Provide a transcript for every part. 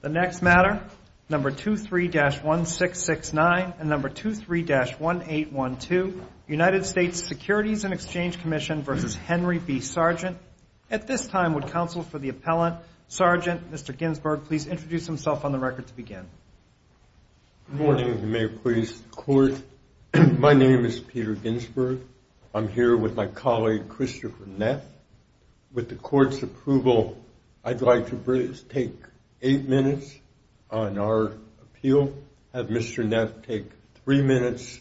The next matter, number 23-1669 and number 23-1812, United States Securities and Exchange Commission versus Henry B. Sargent. At this time, would counsel for the appellant, Sargent, Mr. Ginsburg, please introduce himself on the record to begin. Good morning, Mayor, please, the court. My name is Peter Ginsburg. I'm here with my colleague, Christopher Neff. With the court's approval, I'd like to take eight minutes on our appeal, have Mr. Neff take three minutes,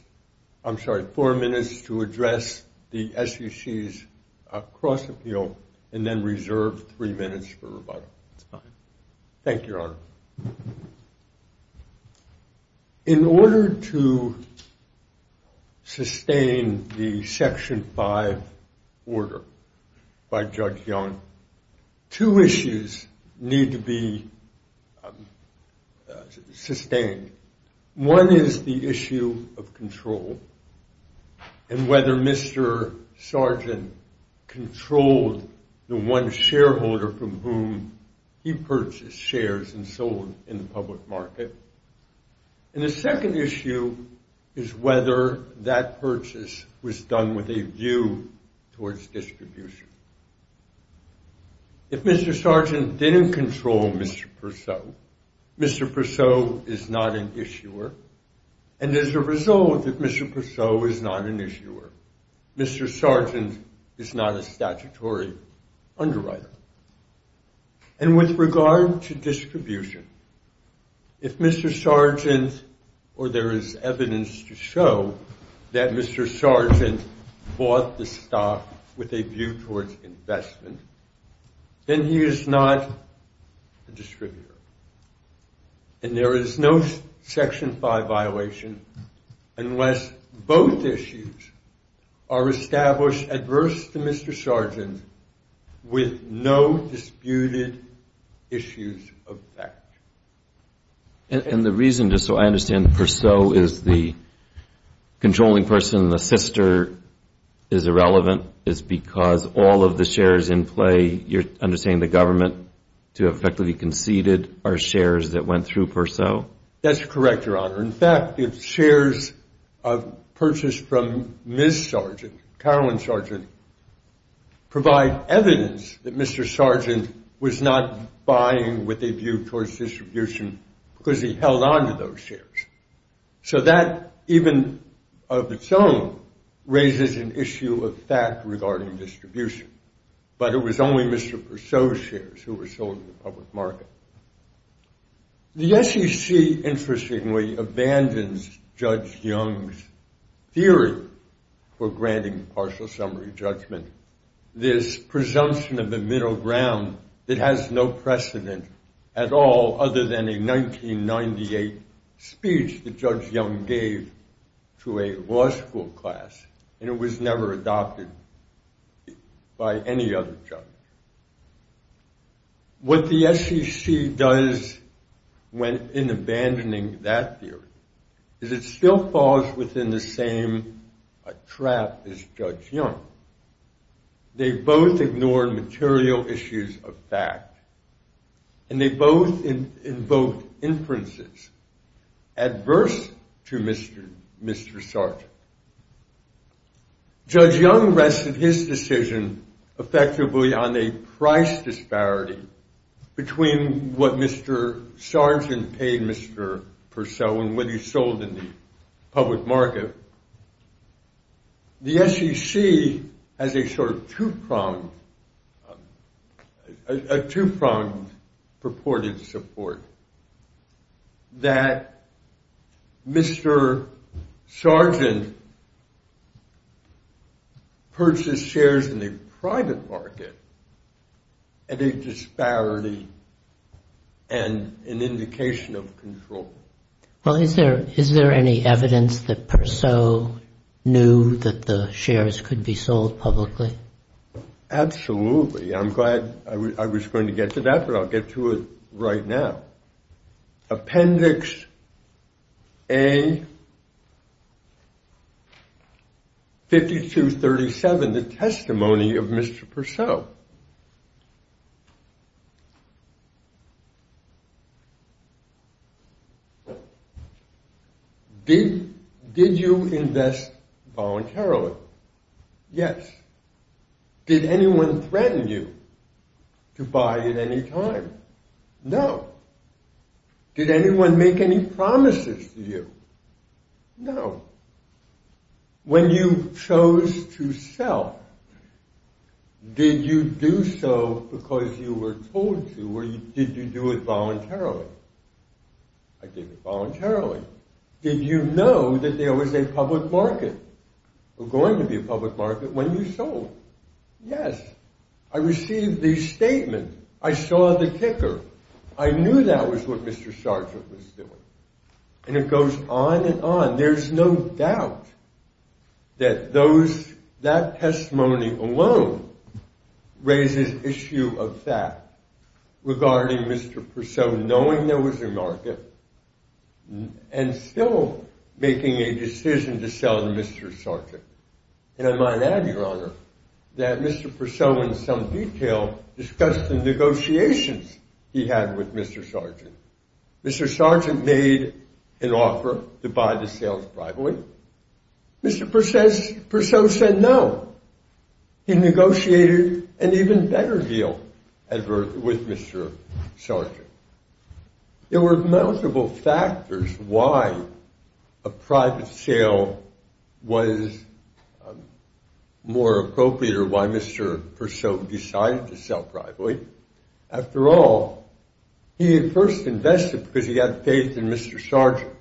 I'm sorry, four minutes to address the SEC's cross-appeal, and then reserve three minutes for rebuttal. Thank you, Your Honor. In order to sustain the Section 5 order by Judge Young, two issues need to be sustained. One is the issue of control and whether Mr. Sargent controlled the one shareholder from whom he purchased shares and sold in the public market. And the second issue is whether that purchase was done with a view towards distribution. If Mr. Sargent didn't control Mr. Persaud, Mr. Persaud is not an issuer. And as a result, if Mr. Persaud is not an issuer, Mr. Sargent is not a statutory underwriter. And with regard to distribution, if Mr. Sargent, or there is evidence to show that Mr. Sargent bought the stock with a view towards investment, then he is not a distributor. And there is no Section 5 violation unless both issues are established adverse to Mr. Sargent with no disputed issues of fact. And the reason, just so I understand, Persaud is the controlling person, the sister is irrelevant, is because all of the shares in play, you're understanding the government to have effectively conceded are shares that went through Persaud? That's correct, Your Honor. In fact, if shares purchased from Ms. Sargent, Carolyn Sargent, provide evidence that Mr. Sargent was not buying with a view towards distribution because he held onto those shares. So that, even of its own, raises an issue of fact regarding distribution. But it was only Mr. Persaud's shares who were sold in the public market. The SEC, interestingly, abandons Judge Young's theory for granting partial summary judgment, this presumption of the middle ground that has no precedent at all other than a 1998 speech that Judge Young gave to a law school class. And it was never adopted by any other judge. What the SEC does in abandoning that theory is it still falls within the same trap as Judge Young. They both ignored material issues of fact. And they both invoked inferences adverse to Mr. Sargent. Judge Young rested his decision effectively on a price disparity between what Mr. Sargent paid Mr. Persaud and what he sold in the public market. The SEC has a sort of two-pronged purported support that Mr. Sargent purchased shares in the private market at a disparity and an indication of control. Well, is there any evidence that Persaud knew that the shares could be sold publicly? Absolutely. I'm glad I was going to get to that, but I'll get to it right now. Appendix A, 5237, the testimony of Mr. Persaud. Did you invest voluntarily? Yes. Did anyone threaten you to buy at any time? No. Did anyone make any promises to you? No. When you chose to sell, did you do so because you were told to, or did you do it voluntarily? I did it voluntarily. Did you know that there was a public market, or going to be a public market, when you sold? Yes. I received the statement. I saw the kicker. I knew that was what Mr. Sargent was doing. And it goes on and on. There's no doubt that that testimony alone raises issue of fact regarding Mr. Persaud knowing there was a market and still making a decision to sell to Mr. Sargent. And I might add, Your Honor, that Mr. Persaud, in some detail, discussed the negotiations he had with Mr. Sargent. Mr. Sargent made an offer to buy the sales privately. Mr. Persaud said no. He negotiated an even better deal with Mr. Sargent. There were multiple factors why a private sale was more appropriate or why Mr. Persaud decided to sell privately. After all, he had first invested because he had faith in Mr. Sargent.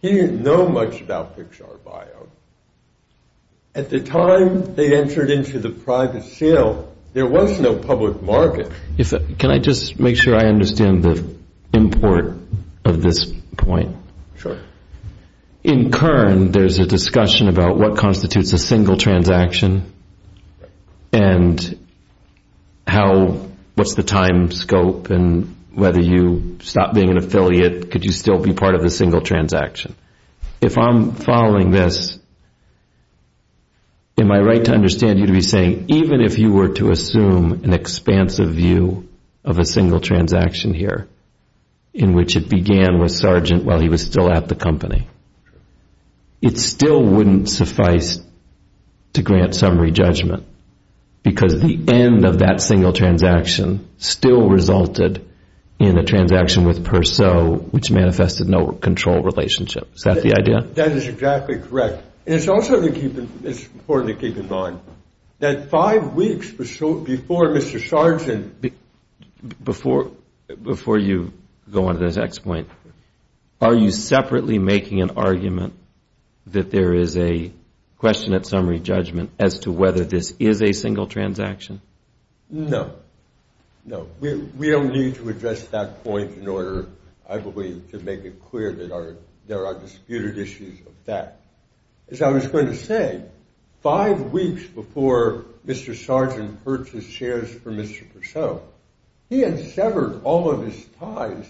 He didn't know much about Pixar Bio. At the time they entered into the private sale, there was no public market. Can I just make sure I understand the import of this point? Sure. In Kern, there's a discussion about what constitutes a single transaction and what's the time scope and whether you stop being an affiliate, could you still be part of a single transaction? If I'm following this, am I right to understand you to be saying even if you were to assume an expansive view of a single transaction here in which it began with Sargent while he was still at the company, it still wouldn't suffice to grant summary judgment because the end of that single transaction still resulted in a transaction with Persaud which manifested no control relationship. Is that the idea? That is exactly correct. And it's also important to keep in mind that five weeks before Mr. Sargent. Before you go on to the next point, are you separately making an argument that there is a question at summary judgment as to whether this is a single transaction? No. No. We don't need to address that point in order, I believe, to make it clear that there are disputed issues of that. As I was going to say, five weeks before Mr. Sargent purchased shares for Mr. Persaud, he had severed all of his ties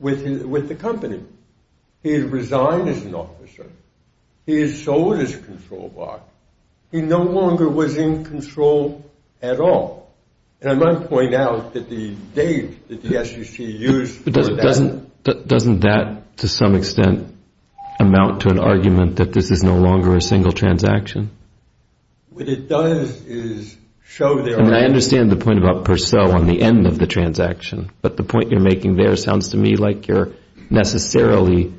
with the company. He had resigned as an officer. He had sold his control box. He no longer was in control at all. And I might point out that the date that the SEC used for that. Doesn't that, to some extent, amount to an argument that this is no longer a single transaction? What it does is show there is. And I understand the point about Persaud on the end of the transaction, but the point you're making there sounds to me like you're necessarily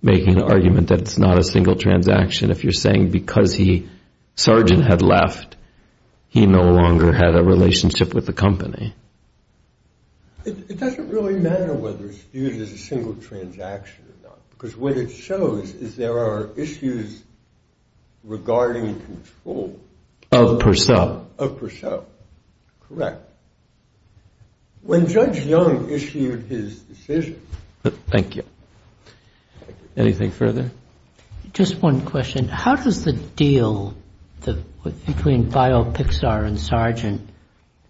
making an argument that it's not a single transaction. If you're saying because Sargent had left, he no longer had a relationship with the company. It doesn't really matter whether it's viewed as a single transaction or not, because what it shows is there are issues regarding control. Of Persaud. Of Persaud, correct. When Judge Young issued his decision. Thank you. Anything further? Just one question. How does the deal between BioPixar and Sargent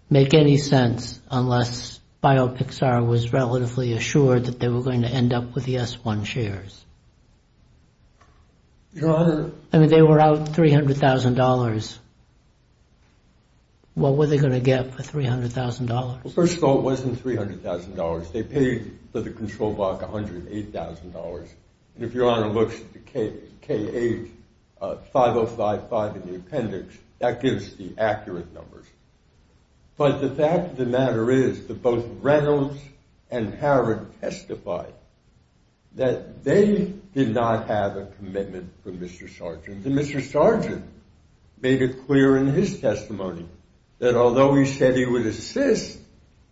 make any sense, unless BioPixar was relatively assured that they were going to end up with the S1 shares? I mean, they were out $300,000. What were they going to get for $300,000? Well, first of all, it wasn't $300,000. They paid for the control block $108,000. And if your honor looks at the K85055 in the appendix, that gives the accurate numbers. But the fact of the matter is that both Reynolds and Harrod testified that they did not have a commitment from Mr. Sargent. And Mr. Sargent made it clear in his testimony that although he said he would assist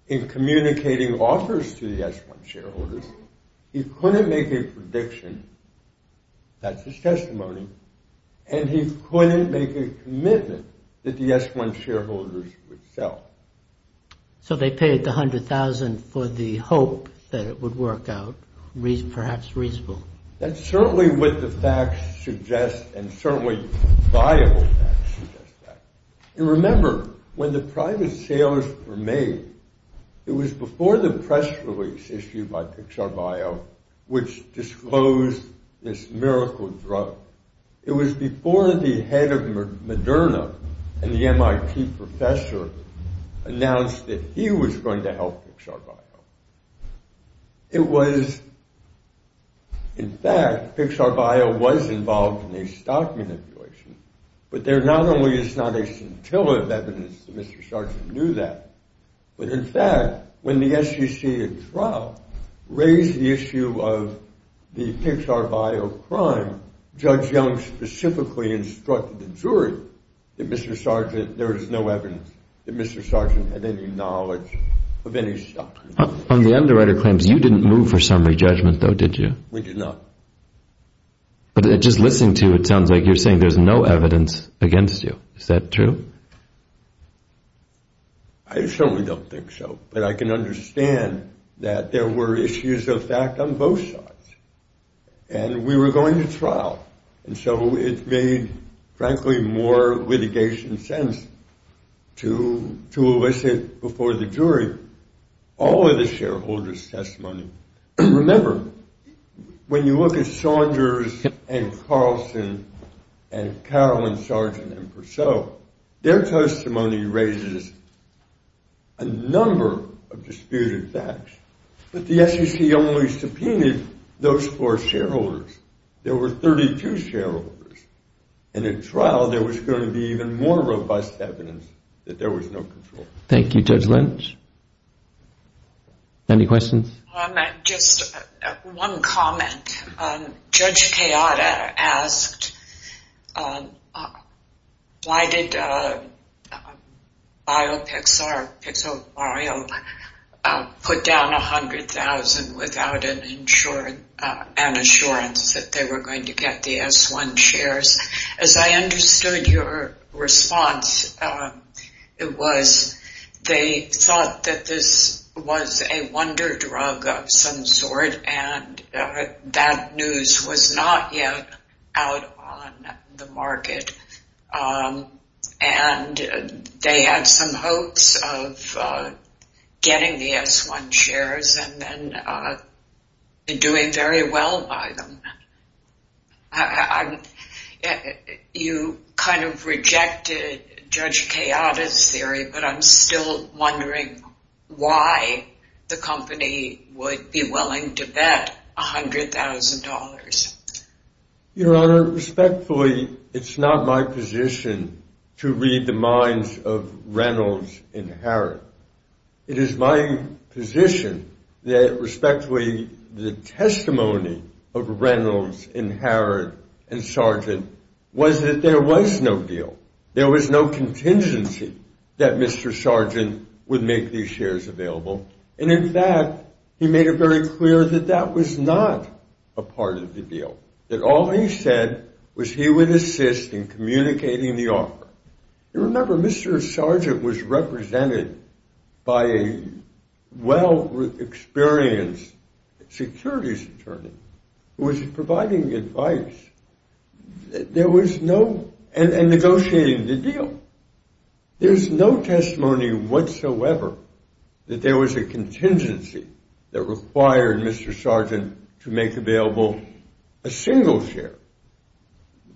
in communicating offers to the S1 shareholders, he couldn't make a prediction. That's his testimony. And he couldn't make a commitment that the S1 shareholders would sell. So they paid the $100,000 for the hope that it would work out, perhaps reasonable. That's certainly what the facts suggest, and certainly viable facts suggest that. And remember, when the private sales were made, it was before the press release issued by Pixar Bio, which disclosed this miracle drug. It was before the head of Moderna and the MIT professor announced that he was going to help Pixar Bio. It was, in fact, Pixar Bio was involved in a stock manipulation. But there not only is not a scintilla of evidence that Mr. Sargent knew that, but in fact, when the SEC at trial raised the issue of the Pixar Bio crime, Judge Young specifically instructed the jury that Mr. Sargent, there is no evidence that Mr. Sargent had any knowledge of any stock. On the underwriter claims, you didn't move for summary judgment, though, did you? We did not. But just listening to it, it sounds like you're saying there's no evidence against you. Is that true? I certainly don't think so. But I can understand that there were issues of fact on both sides. And we were going to trial. And so it made, frankly, more litigation sense to elicit before the jury all of the shareholders' testimony. Remember, when you look at Saunders and Carlson and Carroll and Sargent and Purcell, their testimony raises a number of disputed facts. But the SEC only subpoenaed those four shareholders. There were 32 shareholders. And at trial, there was going to be even more robust evidence that there was no control. Thank you, Judge Lynch. Any questions? Just one comment. Judge Kayada asked, why did Pixar put down $100,000 without an assurance that they were going to get the S-1 shares? As I understood your response, it was they thought that this was a wonder drug of some sort. And that news was not yet out on the market. And they had some hopes of getting the S-1 shares and then doing very well by them. You kind of rejected Judge Kayada's theory. But I'm still wondering why the company would be willing to bet $100,000. Your Honor, respectfully, it's not my position to read the minds of Reynolds and Harrod. It is my position that, respectfully, the testimony of Reynolds and Harrod and Sargent was that there was no deal. There was no contingency that Mr. Sargent would make these shares available. And in fact, he made it very clear that that was not a part of the deal, that all he said was he would assist in communicating the offer. You remember, Mr. Sargent was represented by a well-experienced securities attorney who was providing advice and negotiating the deal. There's no testimony whatsoever that there was a contingency that required Mr. Sargent to make available a single share,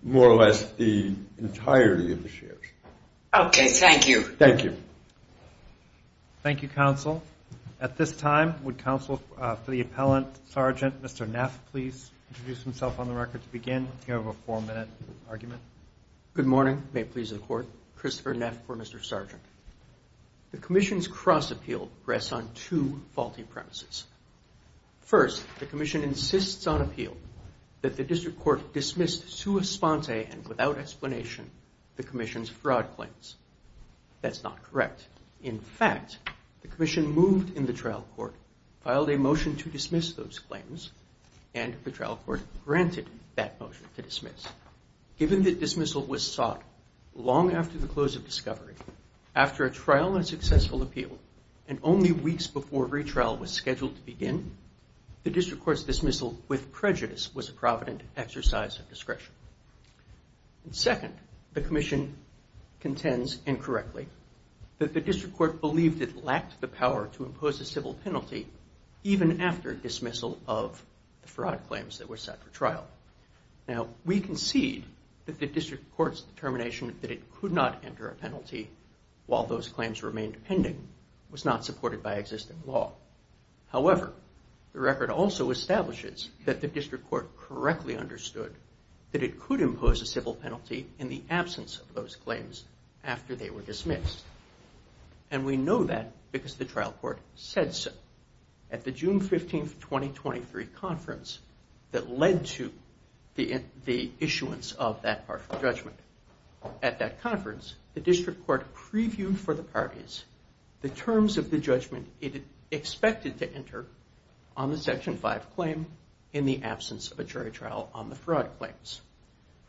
more or less the entirety of the shares. OK, thank you. Thank you. Thank you, counsel. At this time, would counsel for the appellant, Sergeant Mr. Neff, please introduce himself on the record to begin. You have a four-minute argument. Good morning. May it please the court. Christopher Neff for Mr. Sargent. The commission's cross-appeal rests on two faulty premises. First, the commission insists on appeal that the district court dismiss sui sponte and without explanation the commission's fraud claims. That's not correct. In fact, the commission moved in the trial court, filed a motion to dismiss those claims, and the trial court granted that motion to dismiss. Given that dismissal was sought long after the close of discovery, after a trial and successful appeal, and only weeks before retrial was scheduled to begin, the district court's dismissal with prejudice was a provident exercise of discretion. Second, the commission contends incorrectly that the district court believed it lacked the power to impose a civil penalty even after dismissal of the fraud claims that were set for trial. Now, we concede that the district court's determination that it could not enter a penalty while those claims remained pending was not supported by existing law. However, the record also establishes that the district court correctly understood that it could impose a civil penalty in the absence of those claims after they were dismissed. And we know that because the trial court said so. At the June 15, 2023 conference that led to the issuance of that partial judgment, at that conference, the district court previewed for the parties the terms of the judgment it expected to enter on the Section 5 claim in the absence of a jury trial on the fraud claims.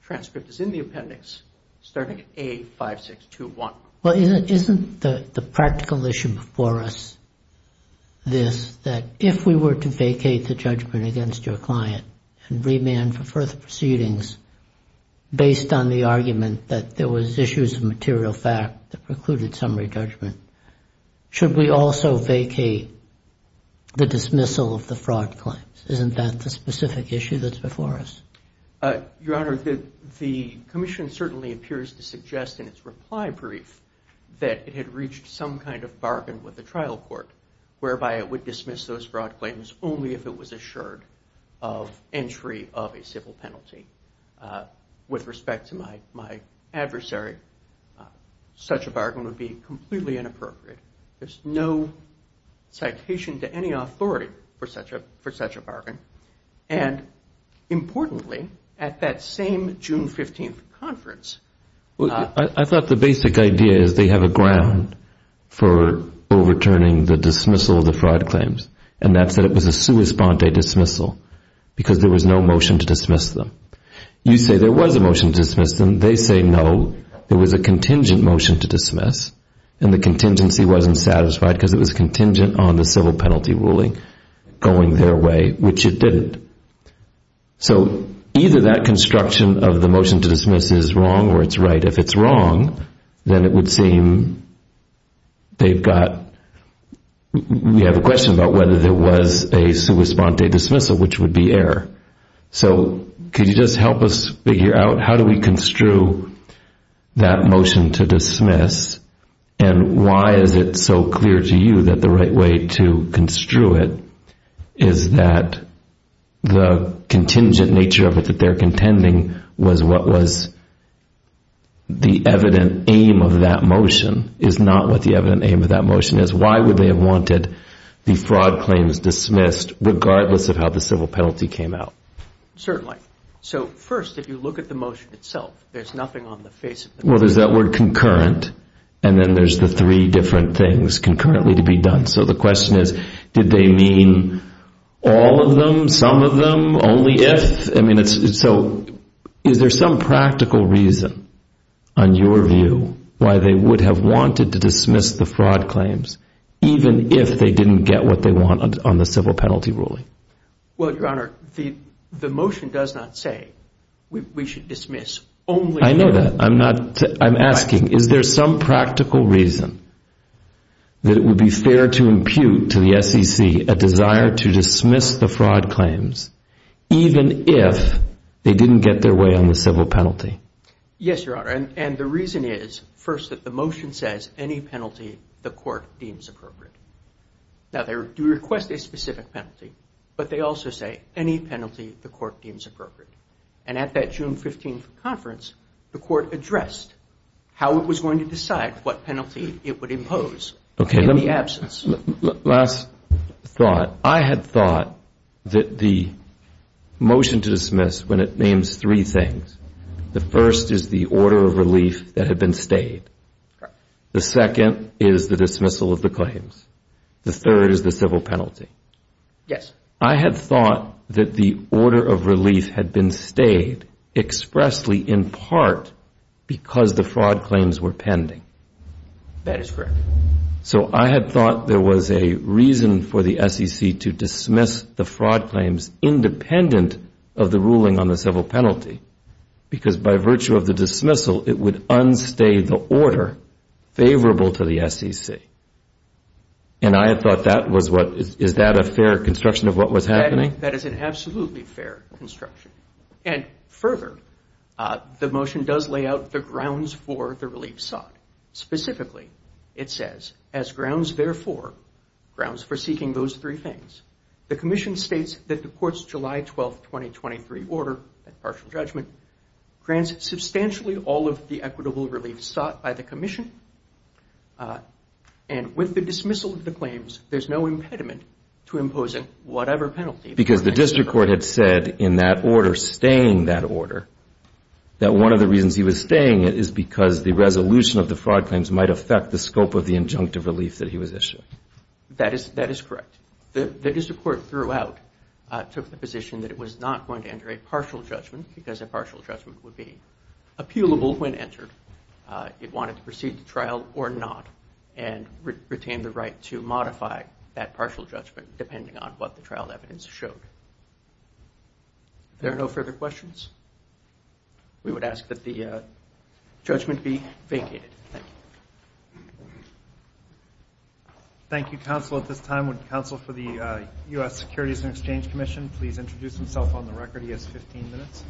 Transcript is in the appendix starting at A5621. Well, isn't the practical issue before us this, that if we were to vacate the judgment against your client and remand for further proceedings based on the argument that there was issues of material fact that precluded summary judgment, should we also vacate the dismissal of the fraud claims? Isn't that the specific issue that's before us? Your Honor, the commission certainly appears to suggest in its reply brief that it had reached some kind of bargain with the trial court whereby it would dismiss those fraud claims only if it was assured of entry of a civil penalty. With respect to my adversary, such a bargain would be completely inappropriate. There's no citation to any authority for such a bargain. And importantly, at that same June 15 conference, I thought the basic idea is they have a ground for overturning the dismissal of the fraud claims. And that's that it was a sua sponte dismissal, because there was no motion to dismiss them. You say there was a motion to dismiss them, they say no. There was a contingent motion to dismiss, and the contingency wasn't satisfied because it was contingent on the civil penalty ruling going their way, which it didn't. So either that construction of the motion to dismiss is wrong or it's right. If it's wrong, then it would seem they've got, we have a question about whether there was a sua sponte dismissal, which would be error. So could you just help us figure out how do we construe that motion to dismiss, and why is it so clear to you that the right way to construe it is that the contingent nature of it that they're contending was what was the evident aim of that motion, is not what the evident aim of that motion is? Why would they have wanted the fraud claims dismissed, regardless of how the civil penalty came out? Certainly. So first, if you look at the motion itself, there's nothing on the face of it. Well, there's that word concurrent, and then there's the three different things concurrently to be done. So the question is, did they mean all of them, some of them, only if? I mean, so is there some practical reason, on your view, why they would have wanted to dismiss the fraud claims, even if they didn't get what they wanted on the civil penalty ruling? Well, Your Honor, the motion does not say we should dismiss only if. I know that. I'm asking, is there some practical reason that it would be fair to impute to the SEC a desire to dismiss the fraud claims, even if they didn't get their way on the civil penalty? Yes, Your Honor. And the reason is, first, that the motion says any penalty the court deems appropriate. Now, they do request a specific penalty, but they also say any penalty the court deems appropriate. And at that June 15 conference, the court addressed how it was going to decide what penalty it would impose in the absence. Last thought. I had thought that the motion to dismiss, when it names three things, the first is the order of relief that had been stayed. The second is the dismissal of the claims. The third is the civil penalty. Yes. I had thought that the order of relief had been stayed expressly, in part, because the fraud claims were pending. That is correct. So I had thought there was a reason for the SEC to dismiss the fraud claims, independent of the ruling on the civil penalty. Because by virtue of the dismissal, it would unstay the order favorable to the SEC. And I had thought that was what, is that a fair construction of what was happening? That is an absolutely fair construction. And further, the motion does lay out the grounds for the relief sought. Specifically, it says, as grounds therefore, grounds for seeking those three things. The commission states that the court's July 12, 2023 order, partial judgment, grants substantially all of the equitable relief sought by the commission. And with the dismissal of the claims, there's no impediment to imposing whatever penalty. Because the district court had said in that order, staying that order, that one of the reasons he was staying it is because the resolution of the fraud claims might affect the scope of the injunctive relief that he was issuing. That is correct. The district court, throughout, took the position that it was not going to enter a partial judgment, because a partial judgment would be appealable when entered. It wanted to proceed to trial or not, and retain the right to modify that partial judgment, depending on what the trial evidence showed. There are no further questions? We would ask that the judgment be vacated. Thank you. Thank you, counsel. At this time, would counsel for the U.S. Securities and Exchange Commission please introduce himself on the record? He has 15 minutes.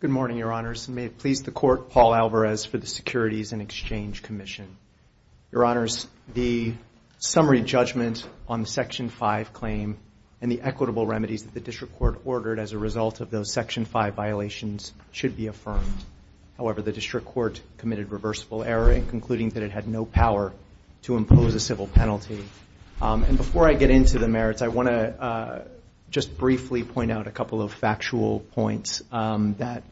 Good morning, Your Honors. May it please the court, Paul Alvarez for the Securities and Exchange Commission. Your Honors, the summary judgment on the Section 5 claim, and the equitable remedies that the district court ordered as a result of those Section 5 violations should be affirmed. However, the district court committed reversible error in concluding that it had no power to impose a civil penalty. And before I get into the merits, I want to just briefly point out a couple of factual points that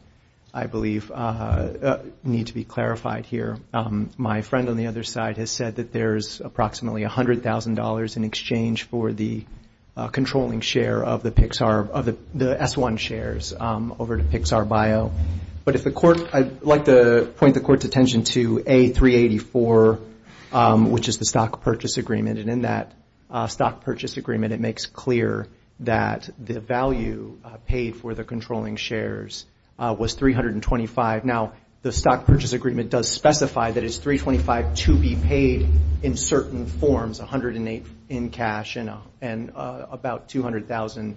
I believe need to be clarified here. My friend on the other side has said that there is approximately $100,000 in exchange for the controlling share of the S-1 shares over to Pixar Bio. But I'd like to point the court's attention to A-384, which is the stock purchase agreement. And in that stock purchase agreement, it makes clear that the value paid for the controlling shares was $325,000. Now, the stock purchase agreement does specify that it's $325,000 to be cash and about $200,000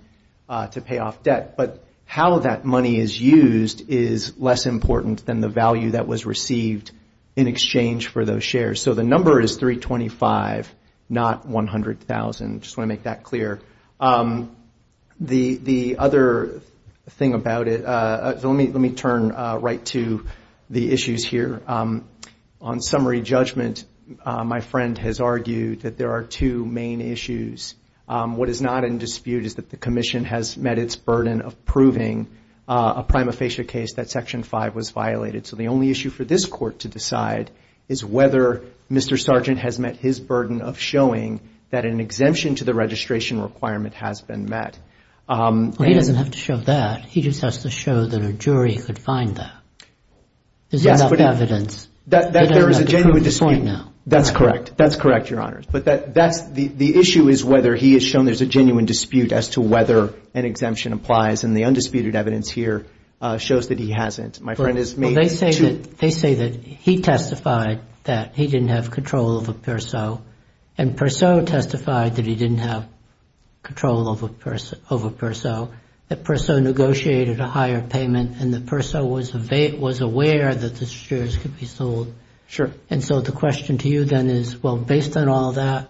to pay off debt. But how that money is used is less important than the value that was received in exchange for those shares. So the number is $325,000, not $100,000. Just want to make that clear. The other thing about it, let me turn right to the issues here. On summary judgment, my friend has What is not in dispute is that the commission has met its burden of proving a prima facie case that section 5 was violated. So the only issue for this court to decide is whether Mr. Sargent has met his burden of showing that an exemption to the registration requirement has been met. He doesn't have to show that. He just has to show that a jury could find that. There's enough evidence. There is a genuine dispute. That's correct. That's correct, Your Honors. The issue is whether he has shown there's a genuine dispute as to whether an exemption applies. And the undisputed evidence here shows that he hasn't. My friend has made two They say that he testified that he didn't have control over PERSO, and PERSO testified that he didn't have control over PERSO, that PERSO negotiated a higher payment, and that PERSO was aware that the shares could be sold. And so the question to you then is, well, based on all that,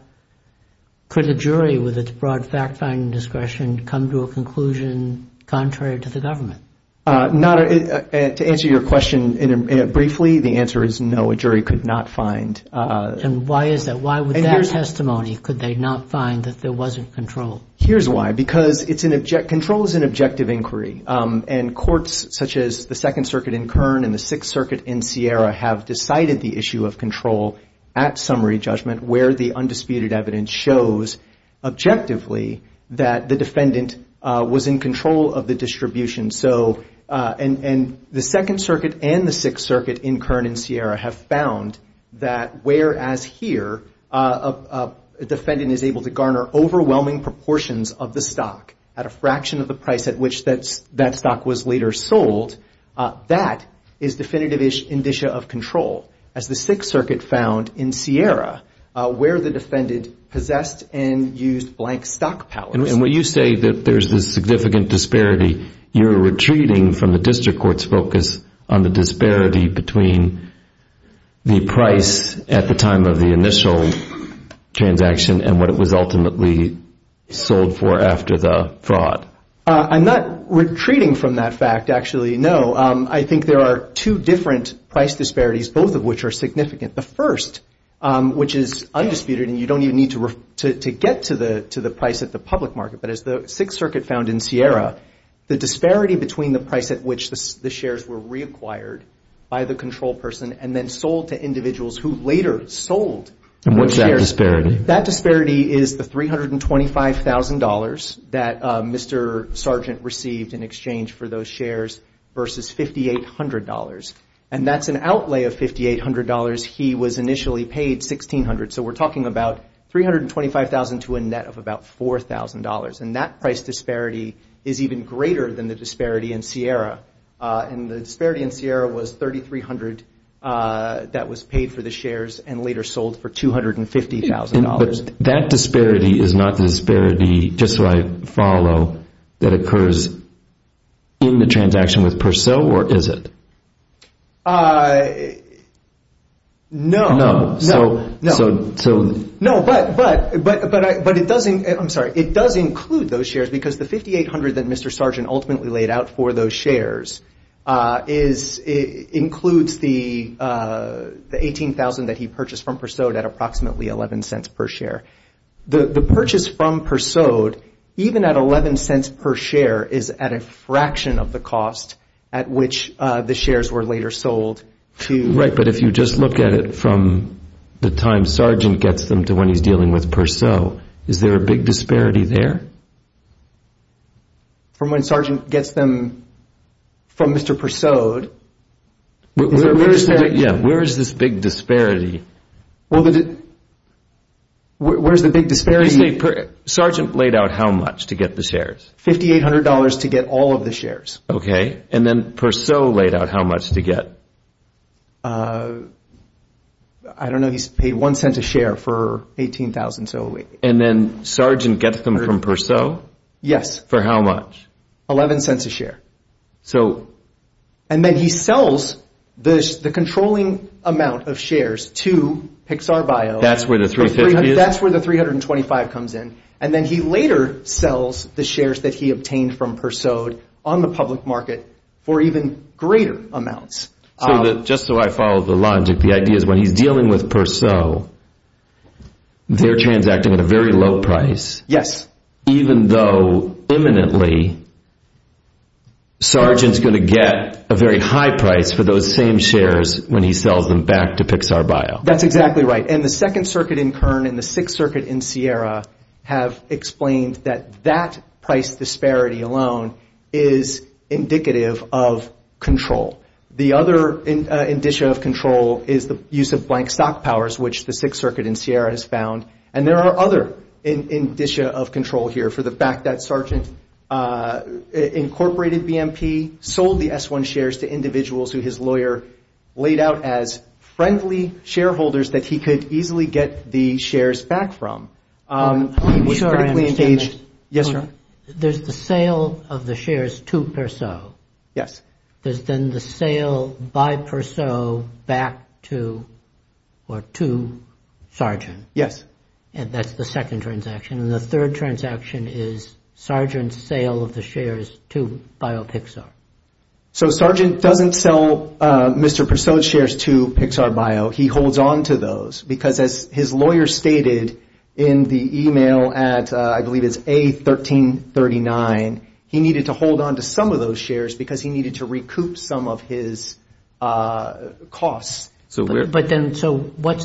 could a jury with its broad fact-finding discretion come to a conclusion contrary to the government? To answer your question briefly, the answer is no, a jury could not find. And why is that? Why would that testimony, could they not find that there wasn't control? Here's why. Because control is an objective inquiry. And courts such as the Second Circuit in Kern and the Sixth Circuit in Sierra have decided the issue of control at summary judgment, where the undisputed evidence shows objectively that the defendant was in control of the distribution. And the Second Circuit and the Sixth Circuit in Kern and Sierra have found that, whereas here, a defendant is able to garner overwhelming proportions of the stock at a fraction of the price at which that stock was later sold, that is definitive indicia of control, as the Sixth Circuit found in Sierra, where the defendant possessed and used blank stock powers. And when you say that there's this significant disparity, you're retreating from the district court's focus on the disparity between the price at the time of the initial transaction and what it was ultimately sold for after the fraud. I'm not retreating from that fact, actually. No. I think there are two different price disparities, both of which are significant. The first, which is undisputed, and you don't even need to get to the price at the public market, but as the Sixth Circuit found in Sierra, the disparity between the price at which the shares were reacquired by the control person and then sold to individuals who later sold those shares. And what's that disparity? That disparity is the $325,000 that Mr. Sargent received in exchange for those shares versus $5,800. And that's an outlay of $5,800. He was initially paid $1,600. So we're talking about $325,000 to a net of about $4,000. And that price disparity is even greater than the disparity in Sierra. And the disparity in Sierra was $3,300 that was paid for the shares and later sold for $250,000. But that disparity is not the disparity, just so I follow, that occurs in the transaction with Purcell, or is it? No. No. So, so, so. No, but, but, but it doesn't, I'm sorry, it does include those shares because the $5,800 that Mr. Sargent ultimately laid out for those shares is, includes the $18,000 that he purchased from Purcell at approximately $0.11 per share. The purchase from Purcell, even at $0.11 per share, is at a fraction of the cost at which the shares were later sold to. Right, but if you just look at it from the time Sargent gets them to when he's dealing with Purcell, is there a big disparity there? From when Sargent gets them from Mr. Purcell, is there a disparity? Yeah, where is this big disparity? Well, where's the big disparity? Sargent laid out how much to get the shares? $5,800 to get all of the shares. OK, and then Purcell laid out how much to get? I don't know, he's paid $0.01 a share for $18,000, so. And then Sargent gets them from Purcell? Yes. For how much? $0.11 a share. And then he sells the controlling amount of shares to Pixar Bio. That's where the $350 is? That's where the $325 comes in. And then he later sells the shares that he obtained from Purcell on the public market for even greater amounts. Just so I follow the logic, the idea is when he's dealing with Purcell, they're transacting at a very low price, even though imminently Sargent's going to get a very high price for those same shares when he sells them back to Pixar Bio. That's exactly right. And the Second Circuit in Kern and the Sixth Circuit in Sierra have explained that that price disparity alone is indicative of control. The other indicia of control is the use of blank stock powers, which the Sixth Circuit in Sierra has found. And there are other indicia of control here for the fact that Sargent incorporated BMP, sold the S1 shares to individuals who his lawyer laid out as friendly shareholders that he could easily get the shares back from. He was critically engaged. Yes, sir? There's the sale of the shares to Purcell. Yes. There's then the sale by Purcell back to Sargent. Yes. And that's the second transaction. And the third transaction is Sargent's sale of the shares to BioPixar. So Sargent doesn't sell Mr. Purcell's shares to Pixar Bio. He holds on to those. Because as his lawyer stated in the email at, I believe it's A1339, he needed to hold on to some of those shares because he needed to recoup some of his costs. So what's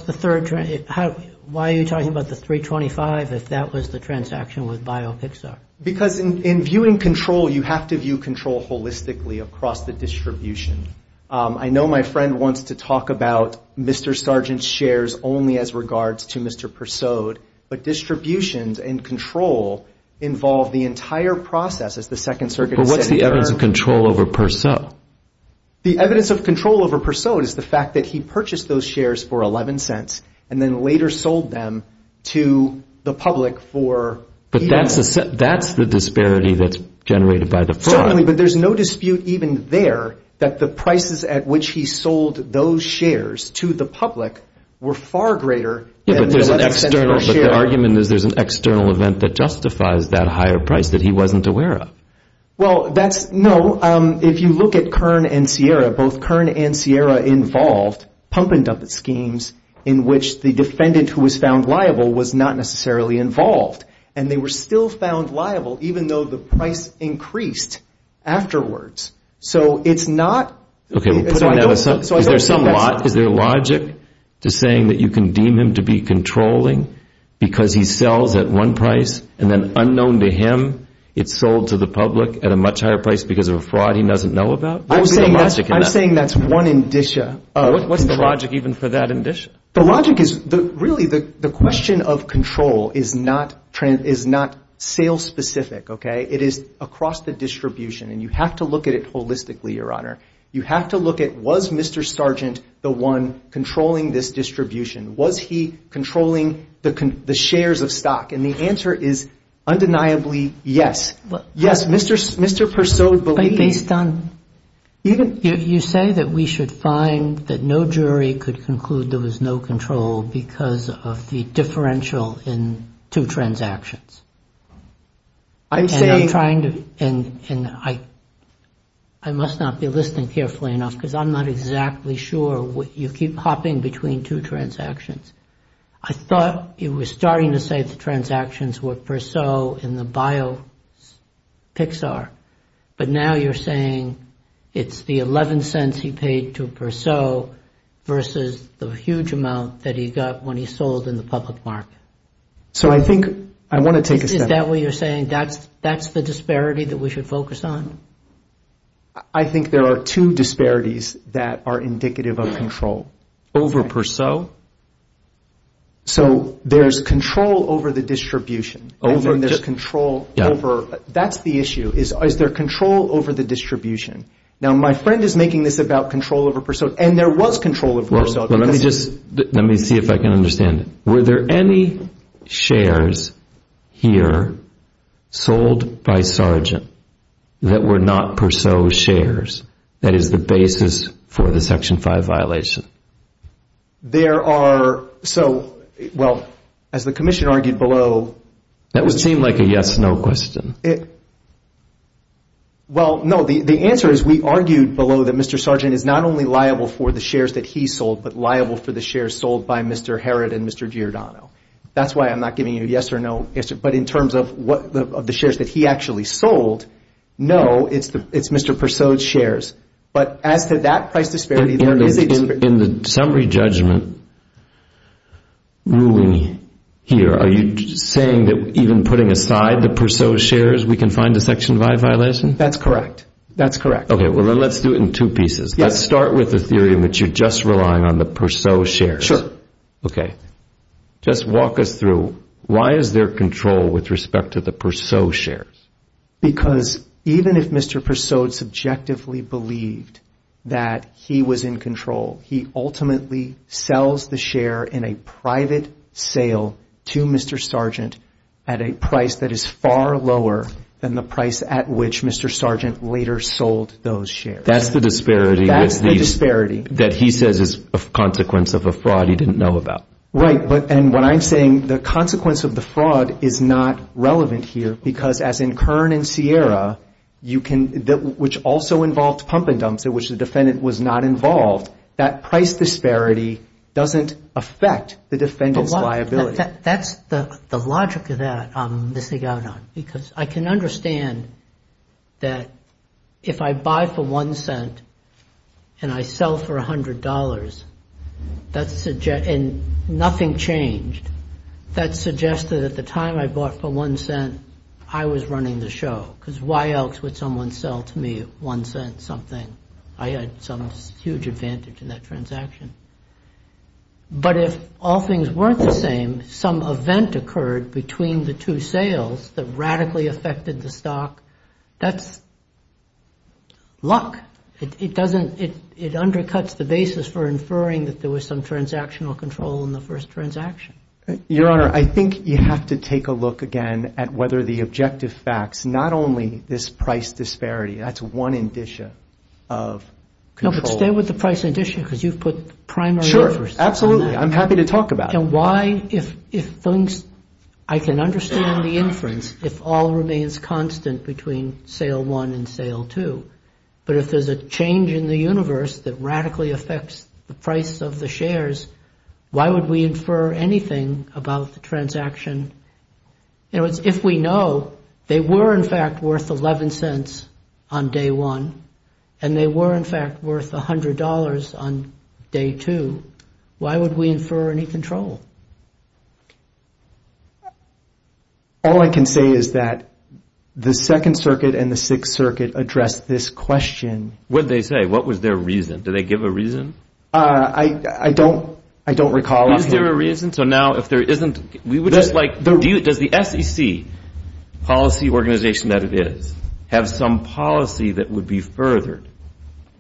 the third? Why are you talking about the 325 if that was the transaction with BioPixar? Because in viewing control, you have to view control holistically across the distribution. I know my friend wants to talk about Mr. Sargent's shares only as regards to Mr. Purcell. But distributions and control involve the entire process as the Second Circuit said in the error. But what's the evidence of control over Purcell? The evidence of control over Purcell is the fact that he purchased those shares for $0.11 and then later sold them to the public for $0.01. That's the disparity that's generated by the fraud. Certainly, but there's no dispute even there that the prices at which he sold those shares to the public were far greater than the $0.11 per share. But the argument is there's an external event that Well, that's no. If you look at Kern and Sierra, both Kern and Sierra involved pump and dump schemes in which the defendant who was found liable was not necessarily involved. And they were still found liable, even though the price increased afterwards. So it's not. OK, is there some logic to saying that you can deem him to be controlling because he sells at one price and then unknown to him, it's sold to the public at a much higher price because of a fraud he doesn't know about? I'm saying that's one indicia. What's the logic even for that indicia? The logic is, really, the question of control is not sale-specific, OK? It is across the distribution. And you have to look at it holistically, Your Honor. You have to look at, was Mr. Sargent the one controlling this distribution? Was he controlling the shares of stock? And the answer is, undeniably, yes. Yes, Mr. Persaud believed. But based on, you say that we should find that no jury could conclude there was no control because of the differential in two transactions. I'm trying to, and I must not be listening carefully enough, because I'm not exactly sure. You keep hopping between two transactions. I thought you were starting to say the transactions were Persaud in the bio PIXAR. But now you're saying it's the $0.11 he paid to Persaud versus the huge amount that he got when he sold in the public market. So I think I want to take a step back. Is that what you're saying? That's the disparity that we should focus on? I think there are two disparities that are indicative of control. Over Persaud? So there's control over the distribution. That's the issue. Is there control over the distribution? Now, my friend is making this about control over Persaud. And there was control over Persaud. Well, let me see if I can understand it. Were there any shares here sold by Sargent that were not Persaud shares? That is the basis for the Section 5 violation. Well, as the commission argued below. That would seem like a yes, no question. Well, no. The answer is we argued below that Mr. Sargent is not only liable for the shares that he sold, but liable for the shares sold by Mr. Herod and Mr. Giordano. That's why I'm not giving you a yes or no. But in terms of the shares that he actually sold, no, it's Mr. Persaud's shares. But as to that price disparity, there is a disparity. In the summary judgment ruling here, are you saying that even putting aside the Persaud shares, we can find a Section 5 violation? That's correct. That's correct. OK, well, then let's do it in two pieces. Let's start with the theory in which you're just relying on the Persaud shares. OK. Just walk us through, why is there control with respect to the Persaud shares? Because even if Mr. Persaud subjectively believed that he was in control, he ultimately sells the share in a private sale to Mr. Sargent at a price that is far lower than the price at which Mr. Sargent later sold those shares. That's the disparity that he says is a consequence of a fraud he didn't know about. Right, and what I'm saying, the consequence of the fraud is not relevant here. Because as in Kern and Sierra, which also involved pump and dumps at which the defendant was not involved, that price disparity doesn't affect the defendant's liability. That's the logic of that I'm missing out on. Because I can understand that if I buy for $0.01 and I sell for $100, and nothing changed, that suggested at the time I bought for $0.01, I was running the show. Because why else would someone sell to me $0.01 something? I had some huge advantage in that transaction. But if all things weren't the same, some event occurred between the two sales that radically affected the stock, that's luck. It doesn't, it undercuts the basis for inferring that there was some transactional control in the first transaction. Your Honor, I think you have to take a look again at whether the objective facts, not only this price disparity, that's one indicia of control. No, but stay with the price indicia, because you've put primary interest on that. Sure, absolutely. I'm happy to talk about it. And why, if things, I can understand the inference, if all remains constant between sale one and sale two, but if there's a change in the universe that radically affects the price of the shares, why would we infer anything about the transaction? In other words, if we know they were, in fact, worth $0.11 on day one, and they were, in fact, worth $100 on day two, why would we infer any control? All I can say is that the Second Circuit and the Sixth Circuit addressed this question. What did they say? What was their reason? Did they give a reason? I don't recall. Is there a reason? So now, if there isn't, we would just like, does the SEC, policy organization that it is, have some policy that would be furthered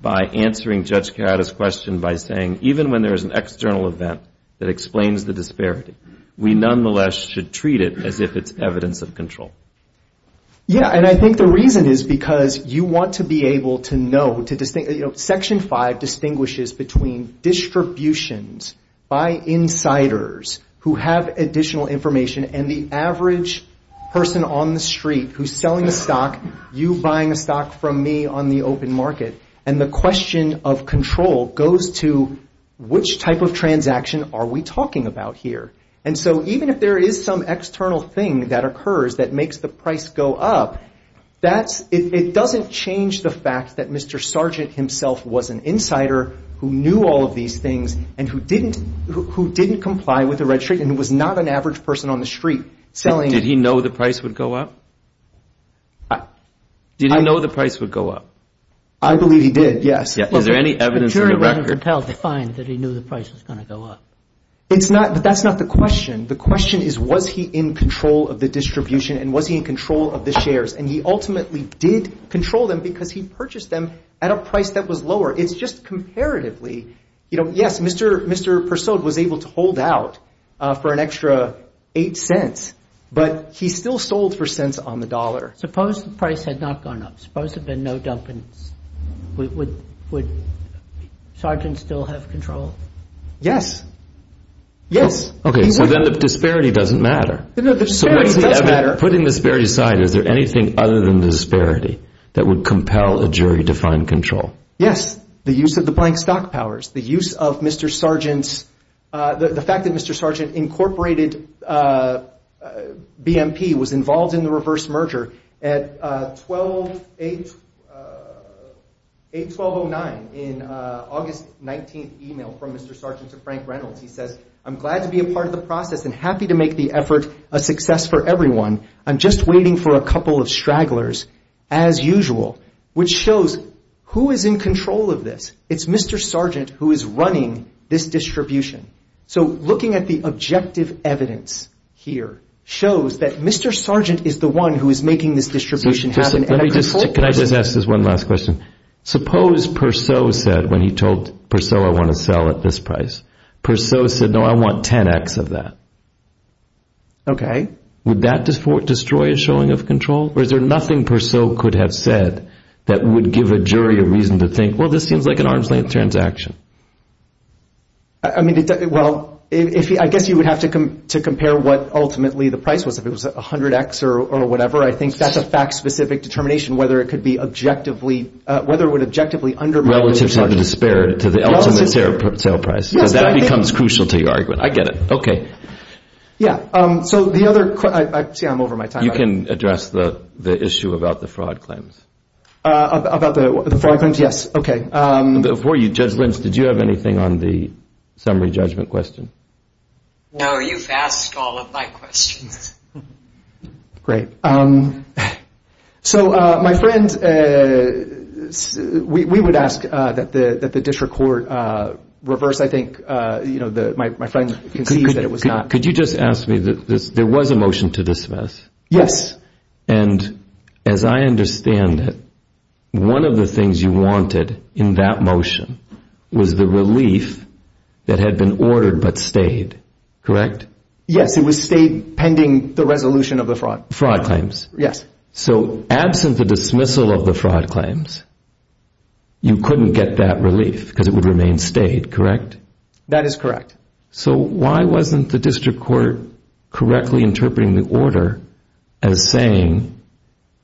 by answering Judge Karata's question by saying, even when there is an external event that explains the disparity, we nonetheless should treat it as if it's evidence of control? Yeah, and I think the reason is because you distinguishes between distributions by insiders who have additional information and the average person on the street who's selling a stock, you buying a stock from me on the open market. And the question of control goes to, which type of transaction are we talking about here? And so even if there is some external thing that occurs that makes the price go up, it doesn't change the fact that Mr. Sargent himself was an insider who knew all of these things and who didn't comply with the registry and who was not an average person on the street selling. Did he know the price would go up? Did he know the price would go up? I believe he did, yes. Is there any evidence in the record? But Jury rendered himself to find that he knew the price was going to go up. That's not the question. The question is, was he in control of the distribution and was he in control of the shares? And he ultimately did control them because he purchased them at a price that was lower. It's just comparatively, yes, Mr. Persaud was able to hold out for an extra $0.08, but he still sold for cents on the dollar. Suppose the price had not gone up. Suppose there had been no dumpings. Would Sargent still have control? Yes. Yes. OK, so then the disparity doesn't matter. No, the disparity does matter. Putting the disparity aside, is there anything other than disparity that would compel a jury to find control? Yes, the use of the blank stock powers, the use of Mr. Sargent's, the fact that Mr. Sargent incorporated BMP was involved in the reverse merger at 8-1209 in August 19th email from Mr. Sargent to Frank Reynolds. He says, I'm glad to be a part of the process and happy to make the effort a success for everyone. I'm just waiting for a couple of stragglers, as usual, which shows who is in control of this. It's Mr. Sargent who is running this distribution. So looking at the objective evidence here shows that Mr. Sargent is the one who is making this distribution happen. Can I just ask this one last question? Suppose Persaud said, when he told Persaud I want to sell at this price, Persaud said, no, I want 10x of that. OK. Would that destroy a showing of control? Or is there nothing Persaud could have said that would give a jury a reason to think, well, this seems like an arm's length transaction? I mean, well, I guess you would have to compare what ultimately the price was, if it was 100x or whatever. I think that's a fact-specific determination whether it could be objectively, whether it would objectively undermine the perception. Relative to the spirit, to the ultimate sale price. Because that becomes crucial to your argument. I get it. OK. Yeah. So the other question, I see I'm over my time. You can address the issue about the fraud claims. About the fraud claims, yes. OK. Before you judge Lynch, did you have anything on the summary judgment question? No, you've asked all of my questions. So my friend, we would ask that the district court reverse, I think, my friend concedes that it was not. Could you just ask me that there was a motion to dismiss? Yes. And as I understand it, one of the things you wanted in that motion was the relief that had been ordered but stayed, correct? Yes, it was stayed pending the resolution of the fraud. Fraud claims. Yes. So absent the dismissal of the fraud claims, you couldn't get that relief, because it would remain stayed, correct? That is correct. So why wasn't the district court correctly interpreting the order as saying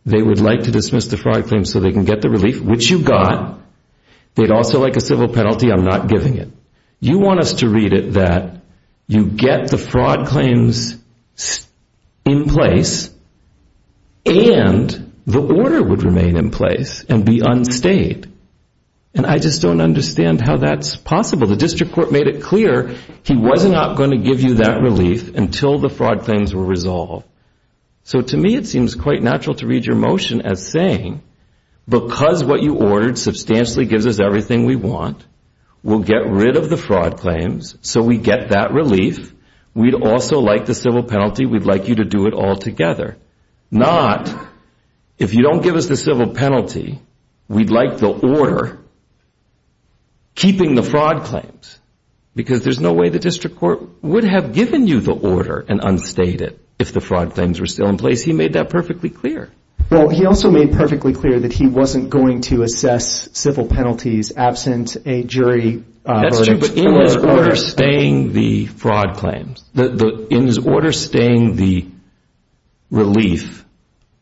they would like to dismiss the fraud claims so they can get the relief, which you got. They'd also like a civil penalty. I'm not giving it. You want us to read it that you get the fraud claims in place and the order would remain in place and be unstayed. And I just don't understand how that's possible. Well, the district court made it clear he was not going to give you that relief until the fraud claims were resolved. So to me, it seems quite natural to read your motion as saying, because what you ordered substantially gives us everything we want, we'll get rid of the fraud claims so we get that relief. We'd also like the civil penalty. We'd like you to do it all together. Not, if you don't give us the civil penalty, we'd like the order keeping the fraud claims. Because there's no way the district court would have given you the order and unstayed it if the fraud claims were still in place. He made that perfectly clear. Well, he also made perfectly clear that he wasn't going to assess civil penalties absent a jury- That's true, but in his order staying the fraud claims, in his order staying the relief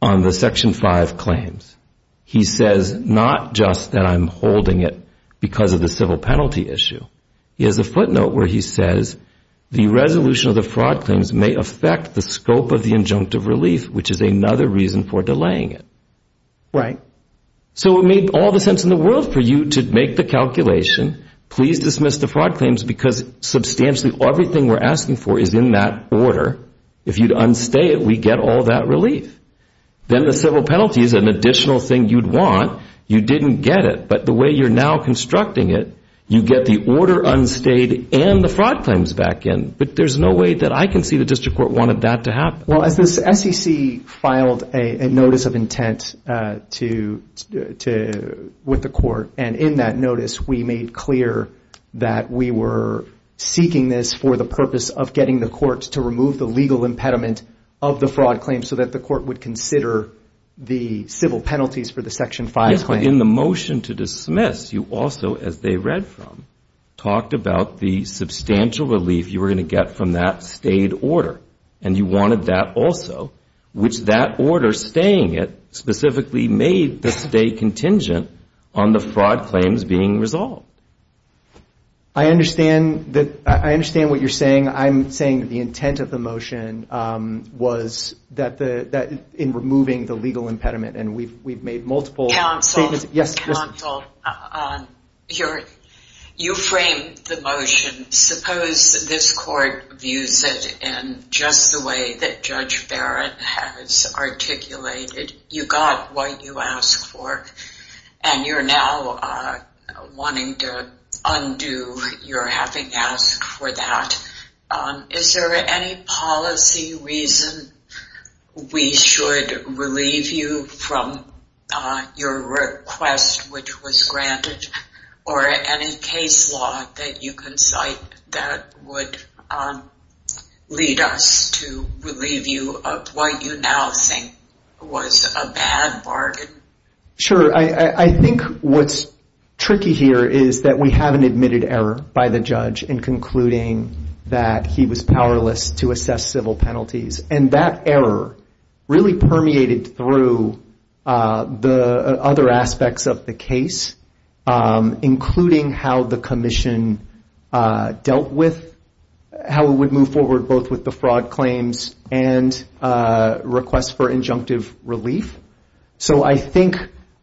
on the section 5 claims, he says not just that I'm holding it because of the civil penalty issue. He has a footnote where he says, the resolution of the fraud claims may affect the scope of the injunctive relief, which is another reason for delaying it. Right. So it made all the sense in the world for you to make the calculation, please dismiss the fraud claims because substantially everything we're asking for is in that order. If you'd unstay it, we'd get all that relief. Then the civil penalty is an additional thing you'd want. You didn't get it. But the way you're now constructing it, you get the order unstayed and the fraud claims back in. But there's no way that I can see the district court wanted that to happen. Well, SEC filed a notice of intent with the court. And in that notice, we made clear that we were seeking this for the purpose of getting the courts to remove the legal impediment of the fraud claim so that the court would consider the civil penalties for the Section 5 claim. Yes, but in the motion to dismiss, you also, as they read from, talked about the substantial relief you were going to get from that stayed order. And you wanted that also, which that order, staying it, specifically made the stay contingent on the fraud claims being resolved. I understand what you're saying. I'm saying the intent of the motion was in removing the legal impediment. And we've made multiple statements. Counsel, you framed the motion. Suppose this court views it in just the way that Judge Barrett has articulated. You got what you asked for. And you're now wanting to undo your having asked for that. Is there any policy reason we should relieve you from your request, which was granted, or any case law that you can cite that would lead us to relieve you of what you now think was a bad bargain? Sure, I think what's tricky here is that we haven't admitted error by the judge in concluding that he was powerless to assess civil penalties. And that error really permeated through the other aspects of the case, including how the commission dealt with, how it would move forward both with the fraud claims and requests for injunctive relief. So I think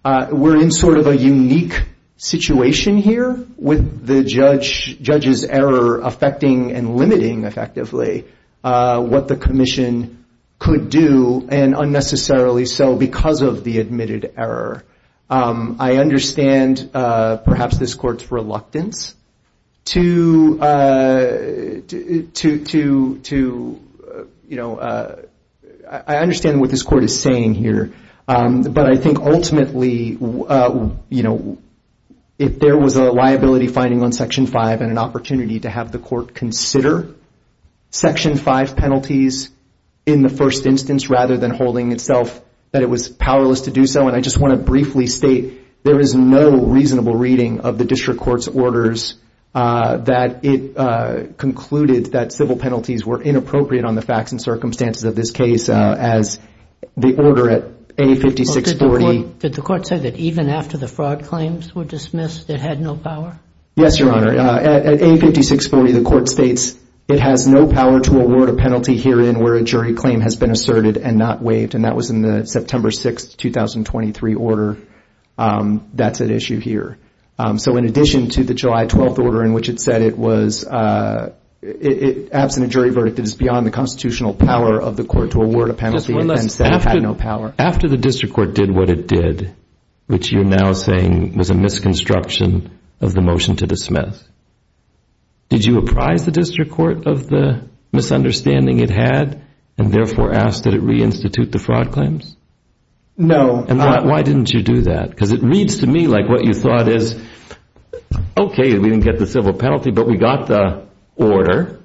we're in sort of a unique situation here with the judge's error affecting and limiting effectively what the commission could do, and unnecessarily so because of the admitted error. I understand perhaps this court's reluctance to, you know, I understand what this court is saying here. But I think ultimately, you know, if there was a liability finding on section 5 and an opportunity to have the court consider section 5 penalties in the first instance, rather than holding itself that it was powerless to do so. And I just want to briefly state, there is no reasonable reading of the district court's orders that it concluded that civil penalties were inappropriate on the facts and circumstances of this case as the order at A5640. Did the court say that even after the fraud claims were dismissed, it had no power? Yes, Your Honor. At A5640, the court states, it has no power to award a penalty herein where a jury claim has been asserted and not waived. And that was in the September 6, 2023 order. That's at issue here. So in addition to the July 12 order in which it said it was absent a jury verdict, it is beyond the constitutional power of the court to award a penalty and then say it had no power. After the district court did what it did, which you're now saying was a misconstruction of the motion to dismiss, did you apprise the district court of the misunderstanding it had, and therefore ask that it re-institute the fraud claims? No. Why didn't you do that? Because it reads to me like what you thought is, OK, we didn't get the civil penalty, but we got the order.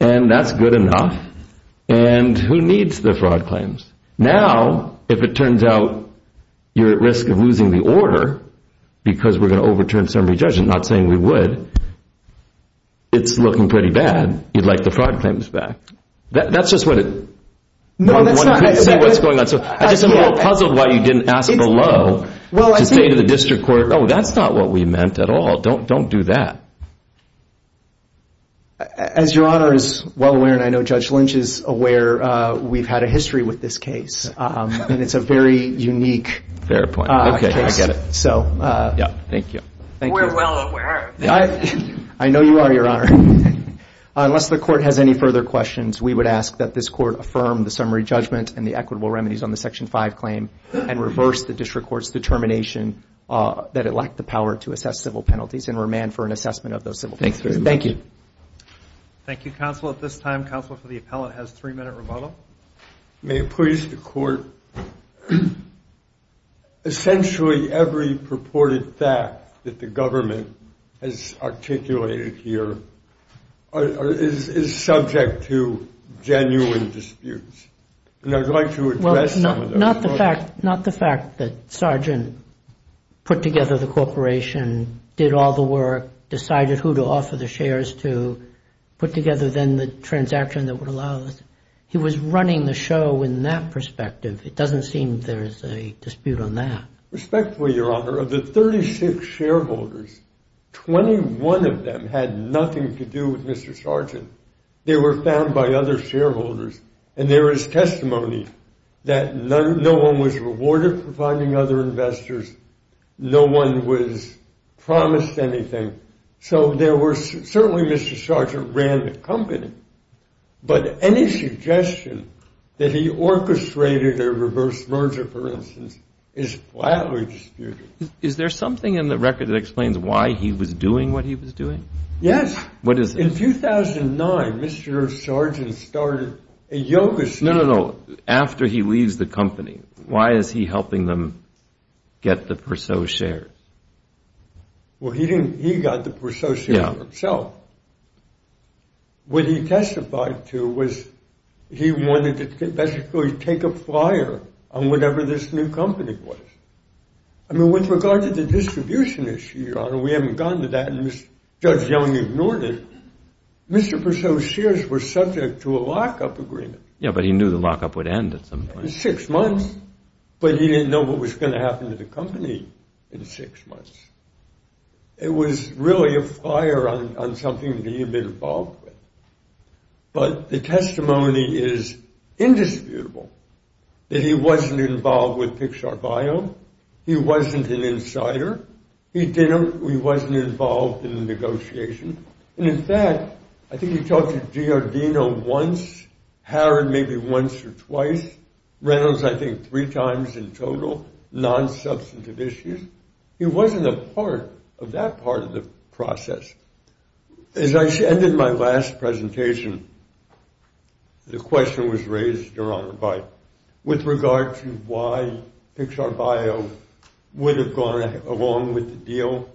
And that's good enough. And who needs the fraud claims? Now, if it turns out you're at risk of losing the order because we're going to overturn summary judgment, not saying we would, it's looking pretty bad. You'd like the fraud claims back. That's just what it wanted to say, what's going on. So I just am a little puzzled why you didn't ask below to say to the district court, oh, that's not what we meant at all. Don't do that. As Your Honor is well aware, and I know Judge Lynch is aware, we've had a history with this case. And it's a very unique case. Fair point. OK, I get it. So. Yeah, thank you. We're well aware. I know you are, Your Honor. Unless the court has any further questions, we would ask that this court affirm the summary judgment and the equitable remedies on the Section 5 claim and reverse the district court's determination that it lacked the power to assess civil penalties and remand for an assessment of those civil penalties. Thanks very much. Thank you. Thank you, counsel. At this time, counsel for the appellant has three minute rebuttal. May it please the court, essentially every purported fact that the government has articulated here is subject to genuine disputes. And I'd like to address some of those. Not the fact that Sargent put together the corporation, did all the work, decided who to offer the shares to, put together then the transaction that would allow this. He was running the show in that perspective. It doesn't seem there is a dispute on that. Respectfully, Your Honor, of the 36 shareholders, 21 of them had nothing to do with Mr. Sargent. They were found by other shareholders. And there is testimony that no one was rewarded for finding other investors. No one was promised anything. So certainly Mr. Sargent ran the company. But any suggestion that he orchestrated a reverse merger, for instance, is flatly disputed. Is there something in the record that explains why he was doing what he was doing? Yes. What is it? In 2009, Mr. Sargent started a yoga school. No, no, no. After he leaves the company, why is he get the Perceaux shares? Well, he got the Perceaux shares himself. What he testified to was he wanted to basically take a flyer on whatever this new company was. I mean, with regard to the distribution issue, Your Honor, we haven't gotten to that, and Judge Young ignored it. Mr. Perceaux's shares were subject to a lockup agreement. Yeah, but he knew the lockup would end at some point. Six months. But he didn't know what was going to happen to the company in six months. It was really a flyer on something that he had been involved with. But the testimony is indisputable that he wasn't involved with Pixar Bio. He wasn't an insider. He wasn't involved in the negotiation. And in fact, I think he talked to Giordano once, Harrod maybe once or twice. Reynolds, I think, three times in total. Non-substantive issues. He wasn't a part of that part of the process. As I ended my last presentation, the question was raised, Your Honor, with regard to why Pixar Bio would have gone along with the deal,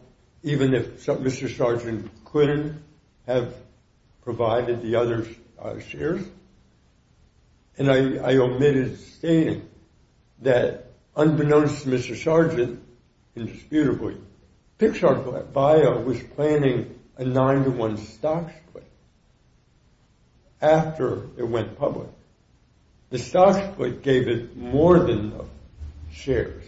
even if Mr. Sargent couldn't have provided the other shares. And I omitted stating that, unbeknownst to Mr. Sargent, indisputably, Pixar Bio was planning a nine-to-one stock split after it went public. The stock split gave it more than the shares.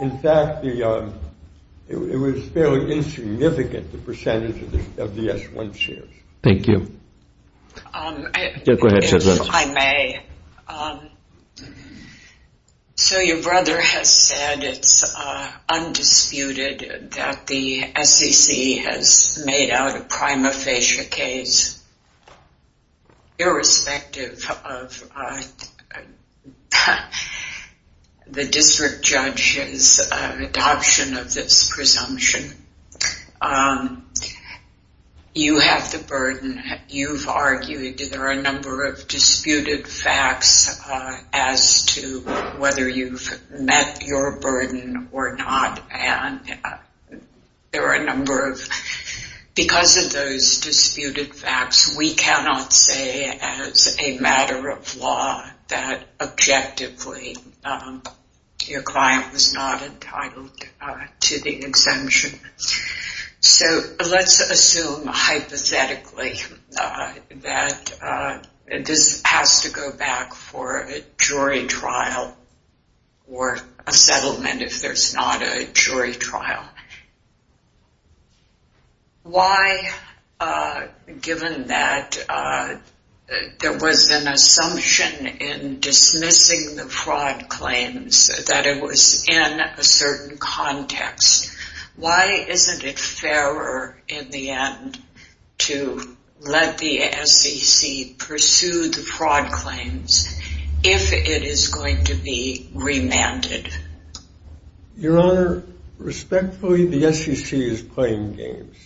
In fact, it was fairly insignificant, the percentage of the S1 shares. Thank you. Yeah, go ahead, Judge Reynolds. If I may, so your brother has said it's undisputed that the SEC has made out a prima facie case, irrespective of the district judge's adoption of this presumption. You have the burden. You've argued there are a number of disputed facts as to whether you've met your burden or not. And there are a number of, because of those disputed facts, we cannot say as a matter of law that objectively your client was not entitled to the exemption. So let's assume, hypothetically, that this has to go back for a jury trial or a settlement if there's not a jury trial. Why, given that there was an assumption in dismissing the fraud claims that it was in a certain context, why isn't it fairer in the end to let the SEC pursue the fraud claims if it is going to be remanded? Your Honor, respectfully, the SEC is playing games.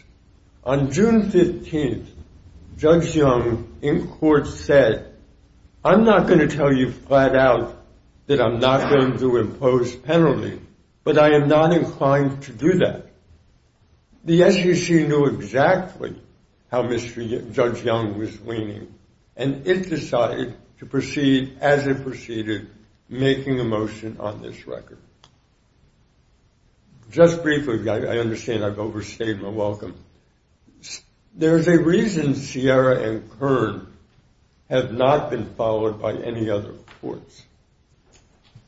On June 15, Judge Young in court said, I'm not going to tell you flat out that I'm not going to impose penalty. But I am not inclined to do that. The SEC knew exactly how Judge Young was leaning. And it decided to proceed as it proceeded, making a motion on this record. Just briefly, I understand I've overstayed my welcome. There's a reason Sierra and Kern have not been followed by any other courts.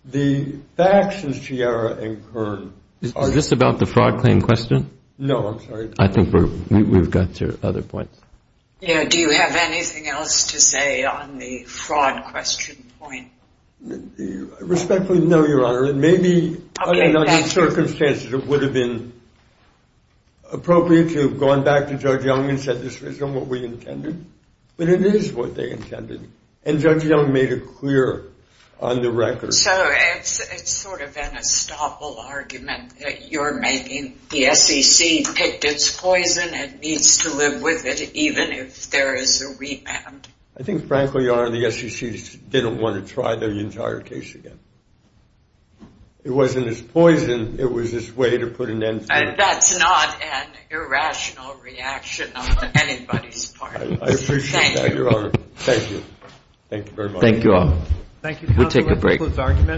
The facts in Sierra and Kern are different. Is this about the fraud claim question? No, I'm sorry. I think we've got your other points. Yeah, do you have anything else to say on the fraud question point? Respectfully, no, Your Honor. It may be, under those circumstances, it would have been appropriate to have gone back to Judge Young and said, this isn't what we intended. But it is what they intended. And Judge Young made it clear on the record. So it's sort of an unstoppable argument that you're making. The SEC picked its poison and needs to live with it, even if there is a remand. I think, frankly, Your Honor, the SEC didn't want to try the entire case again. It wasn't its poison. It was its way to put an end to it. I appreciate that, Your Honor. Thank you. Thank you very much. Thank you all. Thank you, counsel. We'll take a break.